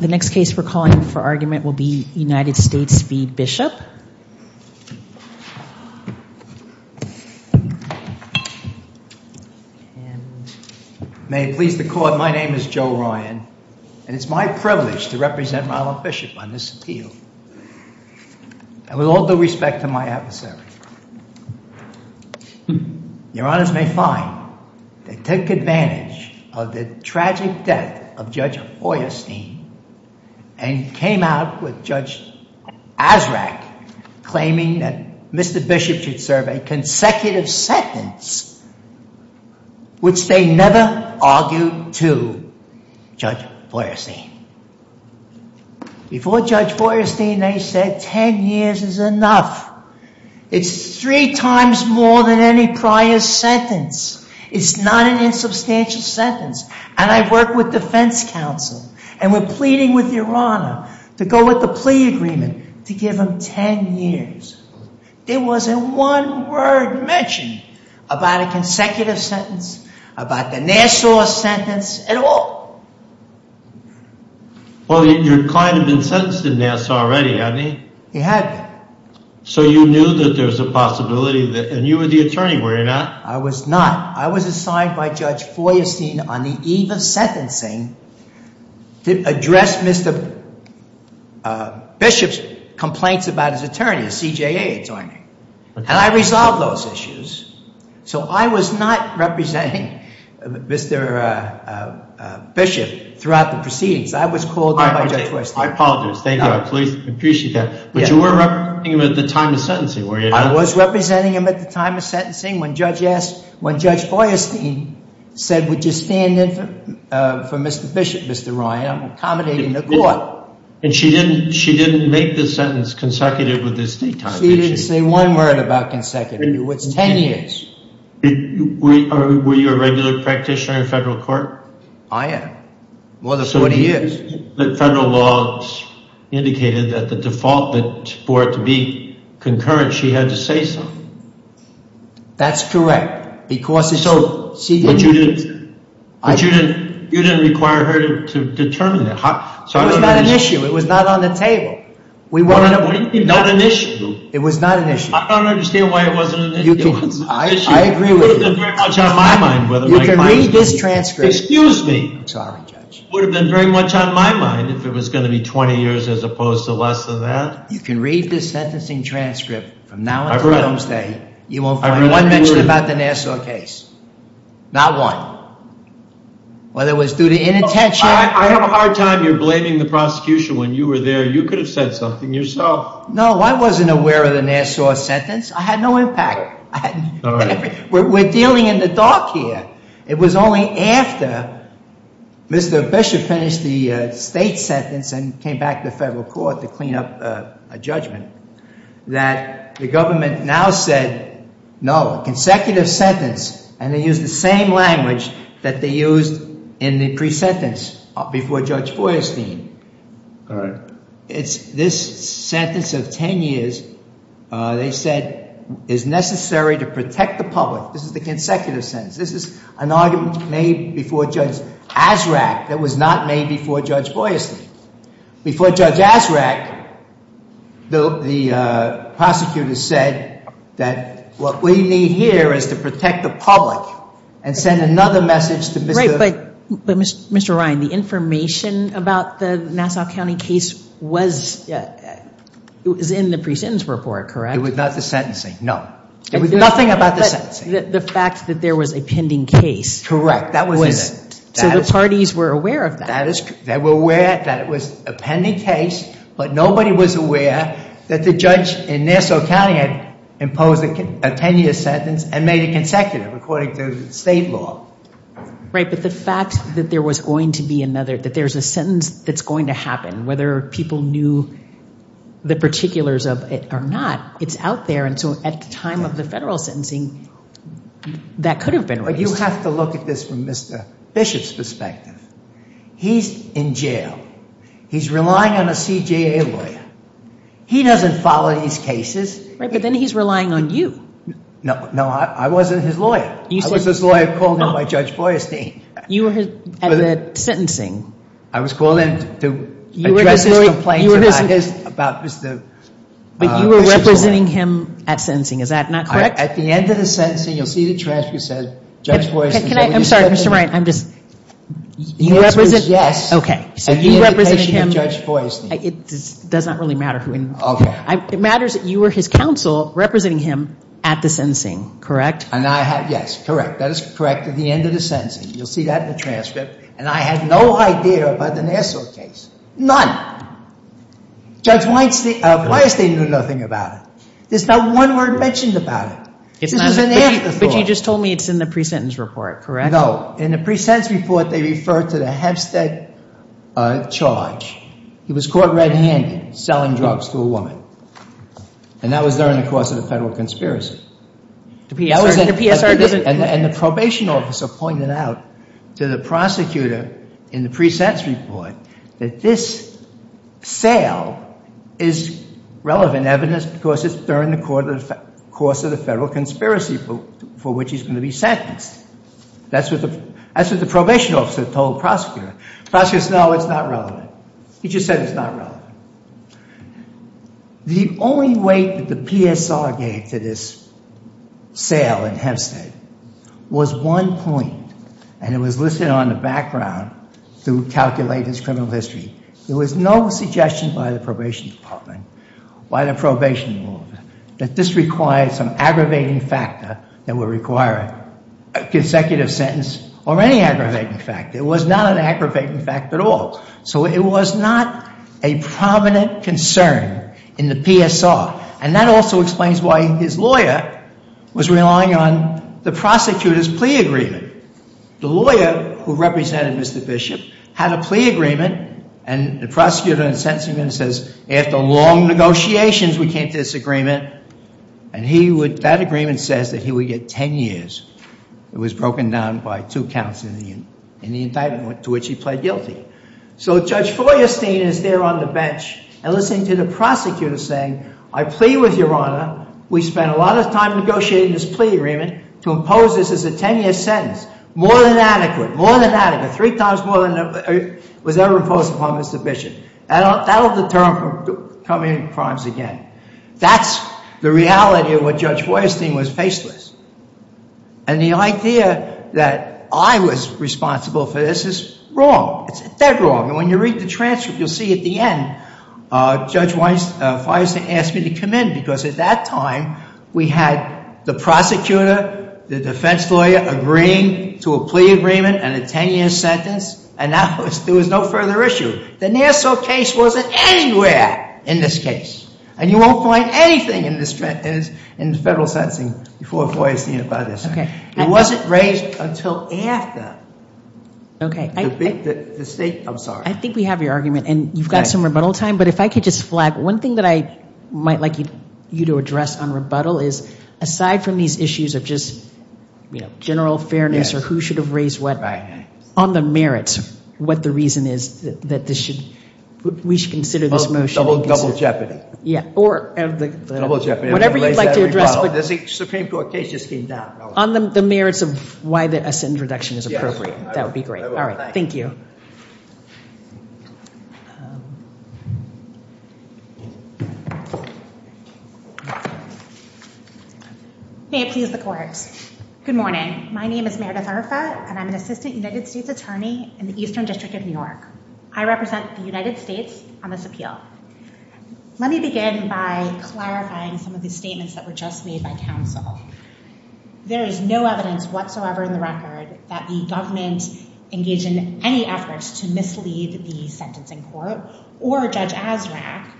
The next case we're calling for argument will be United States v. Bishop. May it please the court, my name is Joe Ryan, and it's my privilege to represent Ronald Bishop on this appeal, and with all due respect to my adversary. Your honors may find they took advantage of the tragic death of Judge Feuerstein and came out with Judge Azraq claiming that Mr. Bishop should serve a consecutive sentence, which they never argued to Judge Feuerstein. Before Judge Feuerstein, they said 10 years is enough. It's three times more than any prior sentence. It's not an insubstantial sentence, and I work with defense counsel, and we're pleading with your honor to go with the plea agreement to give him 10 years. There wasn't one word mentioned about a consecutive sentence, about the Nassau sentence at all. Well, your client had been sentenced in Nassau already, hadn't he? He had been. So you knew that there was a possibility, and you were the attorney, were you not? I was not. I was assigned by Judge Feuerstein on the eve of sentencing to address Mr. Bishop's complaints about his attorney, the CJA attorney, and I resolved those issues. So I was not representing Mr. Bishop throughout the proceedings. I was called on by Judge Feuerstein. I apologize. Thank you. I appreciate that. But you were representing him at the time of sentencing, were you not? I was representing him at the time of sentencing when Judge Feuerstein said, would you stand in for Mr. Bishop, Mr. Ryan, I'm accommodating the court. And she didn't make the sentence consecutive with this date time issue? She didn't say one word about consecutive. It was 10 years. Were you a regular practitioner in federal court? I am. More than 40 years. So the federal laws indicated that the default for it to be concurrent, she had to say something? That's correct. But you didn't require her to determine that? It was not an issue. It was not on the table. We wanted... What do you mean not an issue? It was not an issue. I don't understand why it wasn't an issue. It was an issue. I agree with you. It would have been very much on my mind. You can read this transcript. Excuse me. I'm sorry, Judge. It would have been very much on my mind if it was going to be 20 years as opposed to less than that. You can read this sentencing transcript from now until Wednesday. You won't find one mention about the Nassau case. Not one. Whether it was due to inattention... I have a hard time. You're blaming the prosecution when you were there. You could have said something yourself. No, I wasn't aware of the Nassau sentence. I had no impact. All right. We're dealing in the dark here. It was only after Mr. Bishop finished the state sentence and came back to the federal court to clean up a judgment that the government now said, no, a consecutive sentence, and they used the same language that they used in the pre-sentence before Judge Boyerstein. This sentence of 10 years, they said, is necessary to protect the public. This is the consecutive sentence. This is an argument made before Judge Azraq that was not made before Judge Boyerstein. Before Judge Azraq, the prosecutor said that what we need here is to protect the public and send another message to Mr.... Right, but Mr. Ryan, the information about the Nassau County case was in the pre-sentence report, correct? It was not the sentencing. No. It was nothing about the sentencing. But the fact that there was a pending case... Correct. That was in it. So the parties were aware of that. They were aware that it was a pending case, but nobody was aware that the judge in Nassau County had imposed a 10-year sentence and made it consecutive according to state law. Right, but the fact that there was going to be another... that there's a sentence that's going to happen, whether people knew the particulars of it or not, it's out there. And so at the time of the federal sentencing, that could have been raised. But you have to look at this from Mr. Bishop's perspective. He's in jail. He's relying on a CJA lawyer. He doesn't follow these cases. Right, but then he's relying on you. No, I wasn't his lawyer. I was his lawyer called in by Judge Boyerstein. You were at the sentencing. I was called in to address his complaints about Mr. Bishop's... But you were representing him at sentencing. Is that not correct? At the end of the sentencing, you'll see the transcript that says, Judge Boyerstein... Can I... I'm sorry, Mr. Ryan, I'm just... Yes. Okay. So you represented him... The indication of Judge Boyerstein. It does not really matter who... Okay. It matters that you were his counsel representing him at the sentencing, correct? And I had... yes, correct. That is correct. At the end of the sentencing, you'll see that in the transcript. And I had no idea about the Nassau case, none. Judge Boyerstein knew nothing about it. There's not one word mentioned about it. This is an afterthought. But you just told me it's in the pre-sentence report, correct? No. In the pre-sentence report, they refer to the Hempstead charge. He was caught red-handed selling drugs to a woman. And that was during the course of the federal conspiracy. The PSR doesn't... And the probation officer pointed out to the prosecutor in the pre-sentence report that this sale is relevant evidence because it's during the course of the federal conspiracy for which he's going to be sentenced. That's what the probation officer told the prosecutor. The prosecutor said, no, it's not relevant. He just said it's not relevant. The only weight that the PSR gave to this sale in Hempstead was one point, and it was listed on the background to calculate his criminal history. There was no suggestion by the probation department, by the probation officer, that this required some aggravating factor that would require a consecutive sentence or any aggravating factor. It was not an aggravating factor at all. So it was not a prominent concern in the PSR. And that also explains why his lawyer was relying on the prosecutor's plea agreement. The lawyer who represented Mr. Bishop had a plea agreement, and the prosecutor in the sentencing agreement says, after long negotiations we came to this agreement. And that agreement says that he would get 10 years. It was broken down by two counts in the indictment to which he pled guilty. So Judge Feuerstein is there on the bench and listening to the prosecutor saying, I plea with Your Honor. We spent a lot of time negotiating this plea agreement to impose this as a 10-year sentence. More than adequate. More than adequate. Three times more than was ever imposed upon Mr. Bishop. That will deter him from committing crimes again. That's the reality of what Judge Feuerstein was faceless. And the idea that I was responsible for this is wrong. It's dead wrong. And when you read the transcript, you'll see at the end Judge Feuerstein asked me to come in because at that time we had the prosecutor, the defense lawyer, agreeing to a plea agreement and a 10-year sentence, and there was no further issue. The Nassau case wasn't anywhere in this case. And you won't find anything in the federal sentencing before Feuerstein about this. It wasn't raised until after the state. I'm sorry. I think we have your argument, and you've got some rebuttal time. But if I could just flag one thing that I might like you to address on rebuttal is, aside from these issues of just general fairness or who should have raised what, on the merits what the reason is that we should consider this motion. Double jeopardy. Or whatever you'd like to address. The Supreme Court case just came down. On the merits of why a sentence reduction is appropriate. That would be great. All right. Thank you. May it please the Court. Good morning. My name is Meredith Arfat, and I'm an assistant United States attorney in the Eastern District of New York. I represent the United States on this appeal. Let me begin by clarifying some of the statements that were just made by counsel. There is no evidence whatsoever in the record that the government engaged in any efforts to mislead the sentencing court or Judge Azraq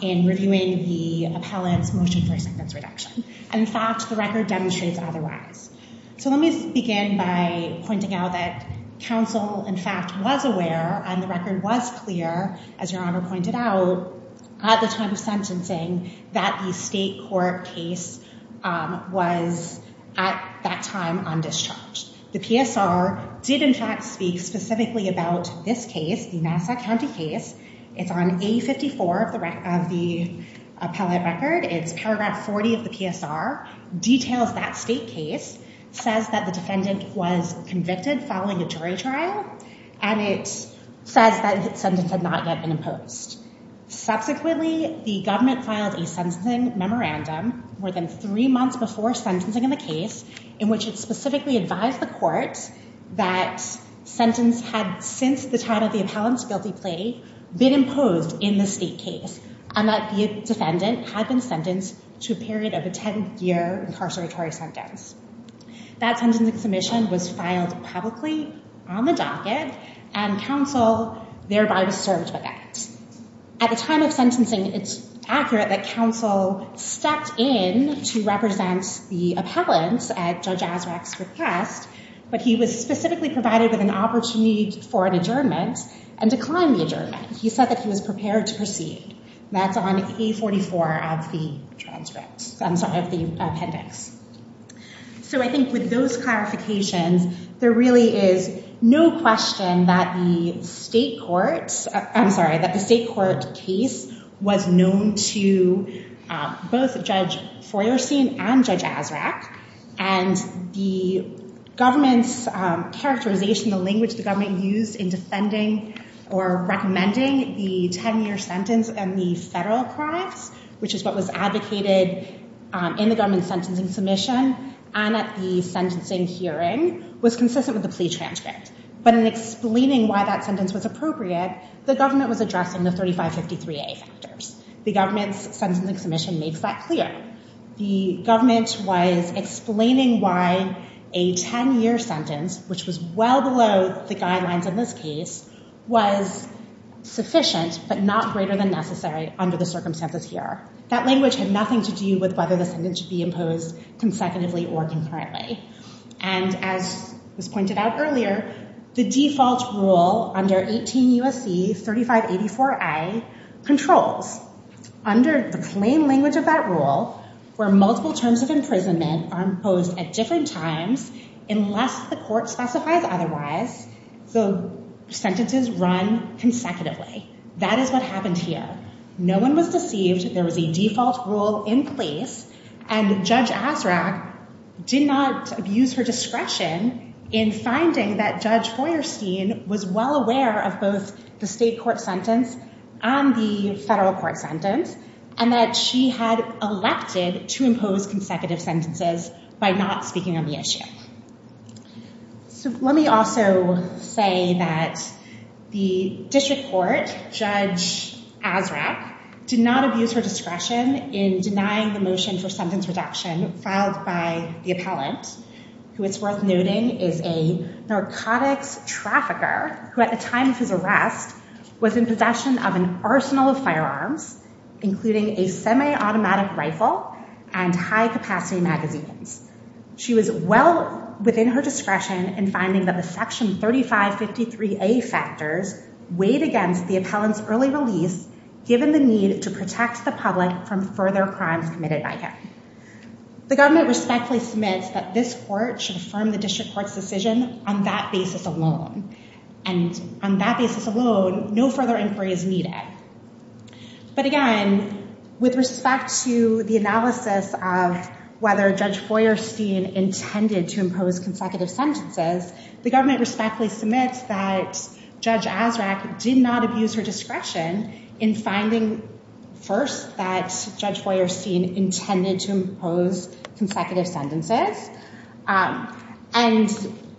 in reviewing the appellant's motion for a sentence reduction. And, in fact, the record demonstrates otherwise. So let me begin by pointing out that counsel, in fact, was aware, and the record was clear, as Your Honor pointed out, at the time of sentencing, that the state court case was, at that time, on discharge. The PSR did, in fact, speak specifically about this case, the Nassau County case. It's on A54 of the appellate record. It's paragraph 40 of the PSR. Details that state case. Says that the defendant was convicted following a jury trial. And it says that the sentence had not yet been imposed. Subsequently, the government filed a sentencing memorandum more than three months before sentencing in the case, in which it specifically advised the court that sentence had, since the time of the appellant's guilty plea, been imposed in the state case, and that the defendant had been sentenced to a period of a 10-year incarceratory sentence. That sentencing submission was filed publicly on the docket, and counsel thereby was served with that. At the time of sentencing, it's accurate that counsel stepped in to represent the appellants at Judge Azraq's request, but he was specifically provided with an opportunity for an adjournment and declined the adjournment. He said that he was prepared to proceed. That's on A44 of the transcripts. I'm sorry, of the appendix. So I think with those clarifications, there really is no question that the state court, I'm sorry, that the state court case was known to both Judge Foyersteen and Judge Azraq, and the government's characterization, the language the government used in defending or recommending the 10-year sentence and the federal crimes, which is what was advocated in the government's sentencing submission and at the sentencing hearing, was consistent with the plea transcript. But in explaining why that sentence was appropriate, the government was addressing the 3553A factors. The government's sentencing submission makes that clear. The government was explaining why a 10-year sentence, which was well below the guidelines in this case, was sufficient but not greater than necessary under the circumstances here. That language had nothing to do with whether the sentence should be imposed consecutively or concurrently. And as was pointed out earlier, the default rule under 18 U.S.C. 3584A controls. Under the claim language of that rule, where multiple terms of imprisonment are imposed at different times, unless the court specifies otherwise, the sentences run consecutively. That is what happened here. No one was deceived. There was a default rule in place, and Judge Azraq did not abuse her discretion in finding that Judge Foyersteen was well aware of both the state court sentence and the federal court sentence and that she had elected to impose consecutive sentences by not speaking on the issue. So let me also say that the district court, Judge Azraq, did not abuse her discretion in denying the motion for sentence reduction filed by the appellant, who it's worth noting is a narcotics trafficker, who at the time of his arrest was in possession of an arsenal of firearms, including a semi-automatic rifle and high-capacity magazines. She was well within her discretion in finding that the Section 3553A factors weighed against the appellant's early release given the need to protect the public from further crimes committed by him. The government respectfully submits that this court should affirm the district court's decision on that basis alone. And on that basis alone, no further inquiry is needed. But again, with respect to the analysis of whether Judge Foyersteen intended to impose consecutive sentences, the government respectfully submits that Judge Azraq did not abuse her discretion in finding first that Judge Foyersteen intended to impose consecutive sentences. And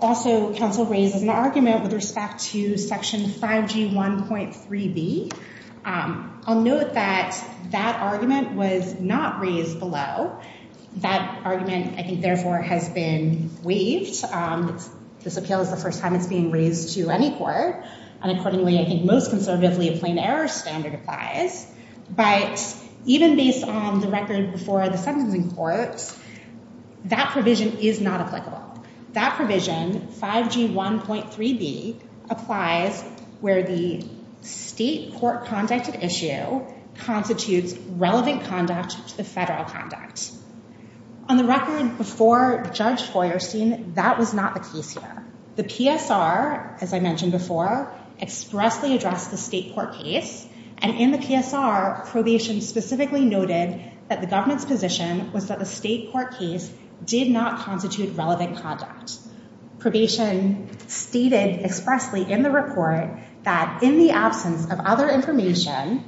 also, counsel raises an argument with respect to Section 5G1.3b. I'll note that that argument was not raised below. That argument, I think, therefore, has been waived. This appeal is the first time it's being raised to any court. And accordingly, I think most conservatively, a plain error standard applies. But even based on the record before the sentencing courts, that provision is not applicable. That provision, 5G1.3b, applies where the state court-conducted issue constitutes relevant conduct to the federal conduct. On the record before Judge Foyersteen, that was not the case here. The PSR, as I mentioned before, expressly addressed the state court case. And in the PSR, probation specifically noted that the government's position was that the state court case did not constitute relevant conduct. Probation stated expressly in the report that in the absence of other information,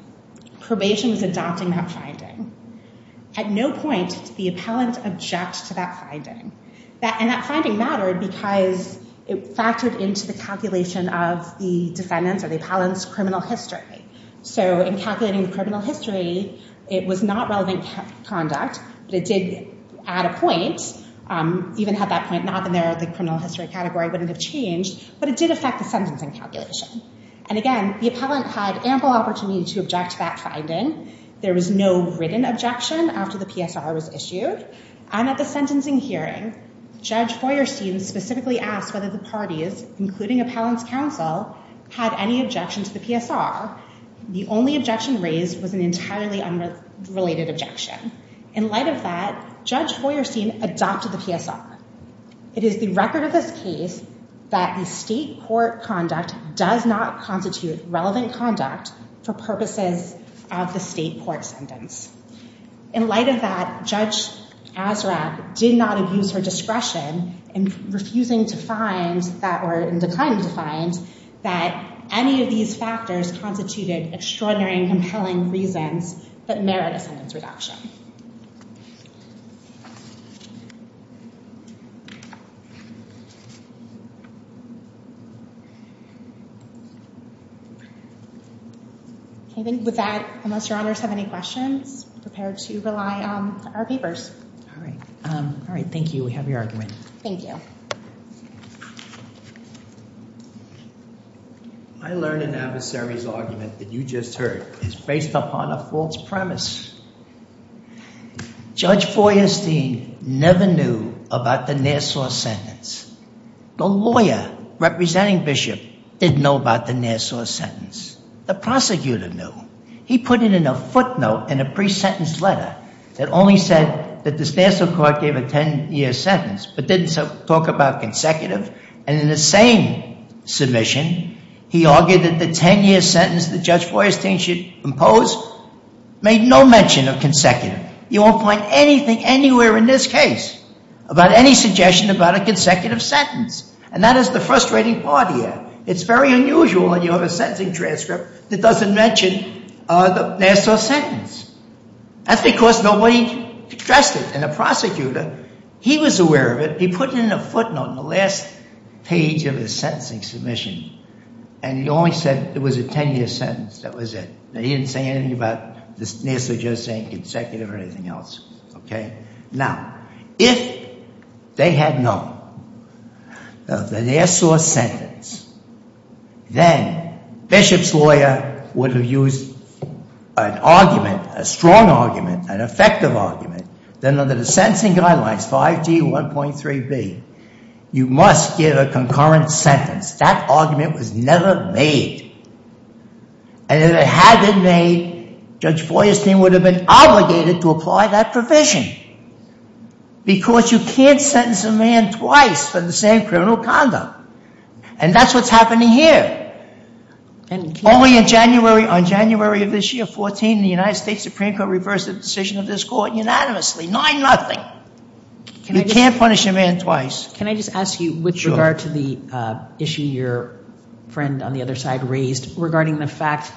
probation is adopting that finding. At no point did the appellant object to that finding. And that finding mattered because it factored into the calculation of the defendant's or the appellant's criminal history. So in calculating the criminal history, it was not relevant conduct, but it did add a point. Even had that point not been there, the criminal history category wouldn't have changed. But it did affect the sentencing calculation. And again, the appellant had ample opportunity to object to that finding. There was no written objection after the PSR was issued. And at the sentencing hearing, Judge Foyersteen specifically asked whether the parties, including appellant's counsel, had any objection to the PSR. The only objection raised was an entirely unrelated objection. In light of that, Judge Foyersteen adopted the PSR. It is the record of this case that the state court conduct does not constitute relevant conduct for purposes of the state court sentence. In light of that, Judge Azraq did not abuse her discretion in refusing to find, or in declining to find, that any of these factors constituted extraordinary and compelling reasons that merit a sentence reduction. With that, unless your honors have any questions, prepare to rely on our papers. All right. All right. Thank you. We have your argument. Thank you. I learned an adversary's argument that you just heard is based upon a false premise. Judge Foyersteen never knew about the Nassau sentence. The lawyer representing Bishop didn't know about the Nassau sentence. The prosecutor knew. He put it in a footnote in a pre-sentence letter that only said that the Nassau court gave a 10-year sentence but didn't talk about consecutive. And in the same submission, he argued that the 10-year sentence that Judge Foyersteen should impose made no mention of consecutive. You won't find anything anywhere in this case about any suggestion about a consecutive sentence. And that is the frustrating part here. It's very unusual when you have a sentencing transcript that doesn't mention the Nassau sentence. That's because nobody addressed it. And the prosecutor, he was aware of it. He put it in a footnote in the last page of his sentencing submission, and he only said it was a 10-year sentence. That was it. He didn't say anything about the Nassau just saying consecutive or anything else. Now, if they had known of the Nassau sentence, then Bishop's lawyer would have used an argument, a strong argument, an effective argument. Then under the sentencing guidelines, 5G1.3b, you must give a concurrent sentence. That argument was never made. And if it had been made, Judge Foyersteen would have been obligated to apply that provision because you can't sentence a man twice for the same criminal conduct. And that's what's happening here. Only in January, on January of this year, 14, the United States Supreme Court reversed the decision of this court unanimously, 9-0. You can't punish a man twice. Can I just ask you with regard to the issue your friend on the other side raised regarding the fact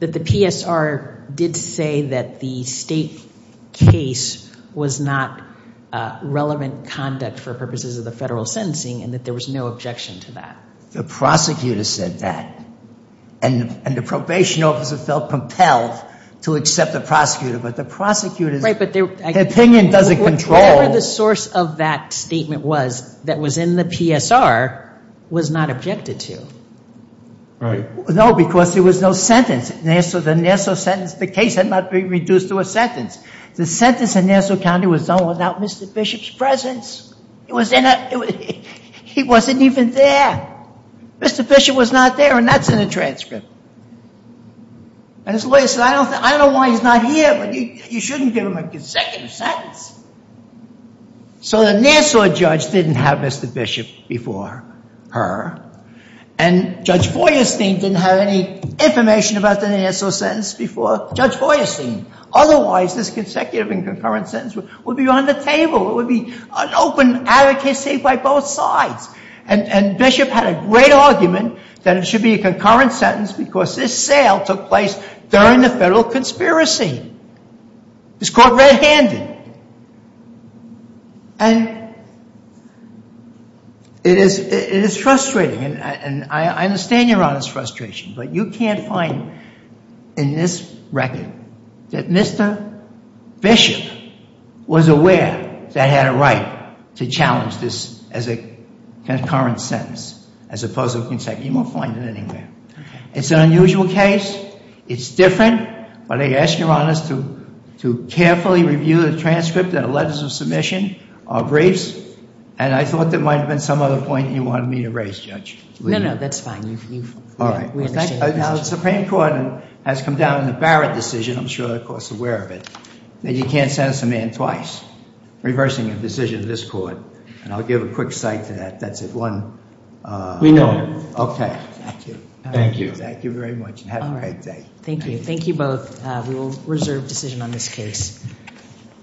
that the PSR did say that the state case was not relevant conduct for purposes of the federal sentencing and that there was no objection to that? The prosecutor said that. And the probation officer felt compelled to accept the prosecutor. But the prosecutor's opinion doesn't control. Whatever the source of that statement was that was in the PSR was not objected to. Right. No, because there was no sentence. The Nassau sentence, the case had not been reduced to a sentence. The sentence in Nassau County was done without Mr. Bishop's presence. He wasn't even there. Mr. Bishop was not there, and that's in the transcript. And his lawyer said, I don't know why he's not here, but you shouldn't give him a consecutive sentence. So the Nassau judge didn't have Mr. Bishop before her, and Judge Feuerstein didn't have any information about the Nassau sentence before Judge Feuerstein. Otherwise, this consecutive and concurrent sentence would be on the table. It would be an open advocacy by both sides. And Bishop had a great argument that it should be a concurrent sentence because this sale took place during the federal conspiracy. It was caught red-handed. And it is frustrating, and I understand Your Honor's frustration, but you can't find in this record that Mr. Bishop was aware that he had a right to challenge this as a concurrent sentence as opposed to a consecutive. You won't find it anywhere. It's an unusual case. It's different, but I ask Your Honors to carefully review the transcript and the letters of submission, our briefs. And I thought there might have been some other point you wanted me to raise, Judge. No, no, that's fine. All right. Now, the Supreme Court has come down with a Barrett decision. I'm sure you're, of course, aware of it, that you can't sentence a man twice, reversing a decision of this court. And I'll give a quick cite to that. That's at 1. We know it. Okay. Thank you. Thank you very much. Have a great day. Thank you. Thank you both. We will reserve decision on this case.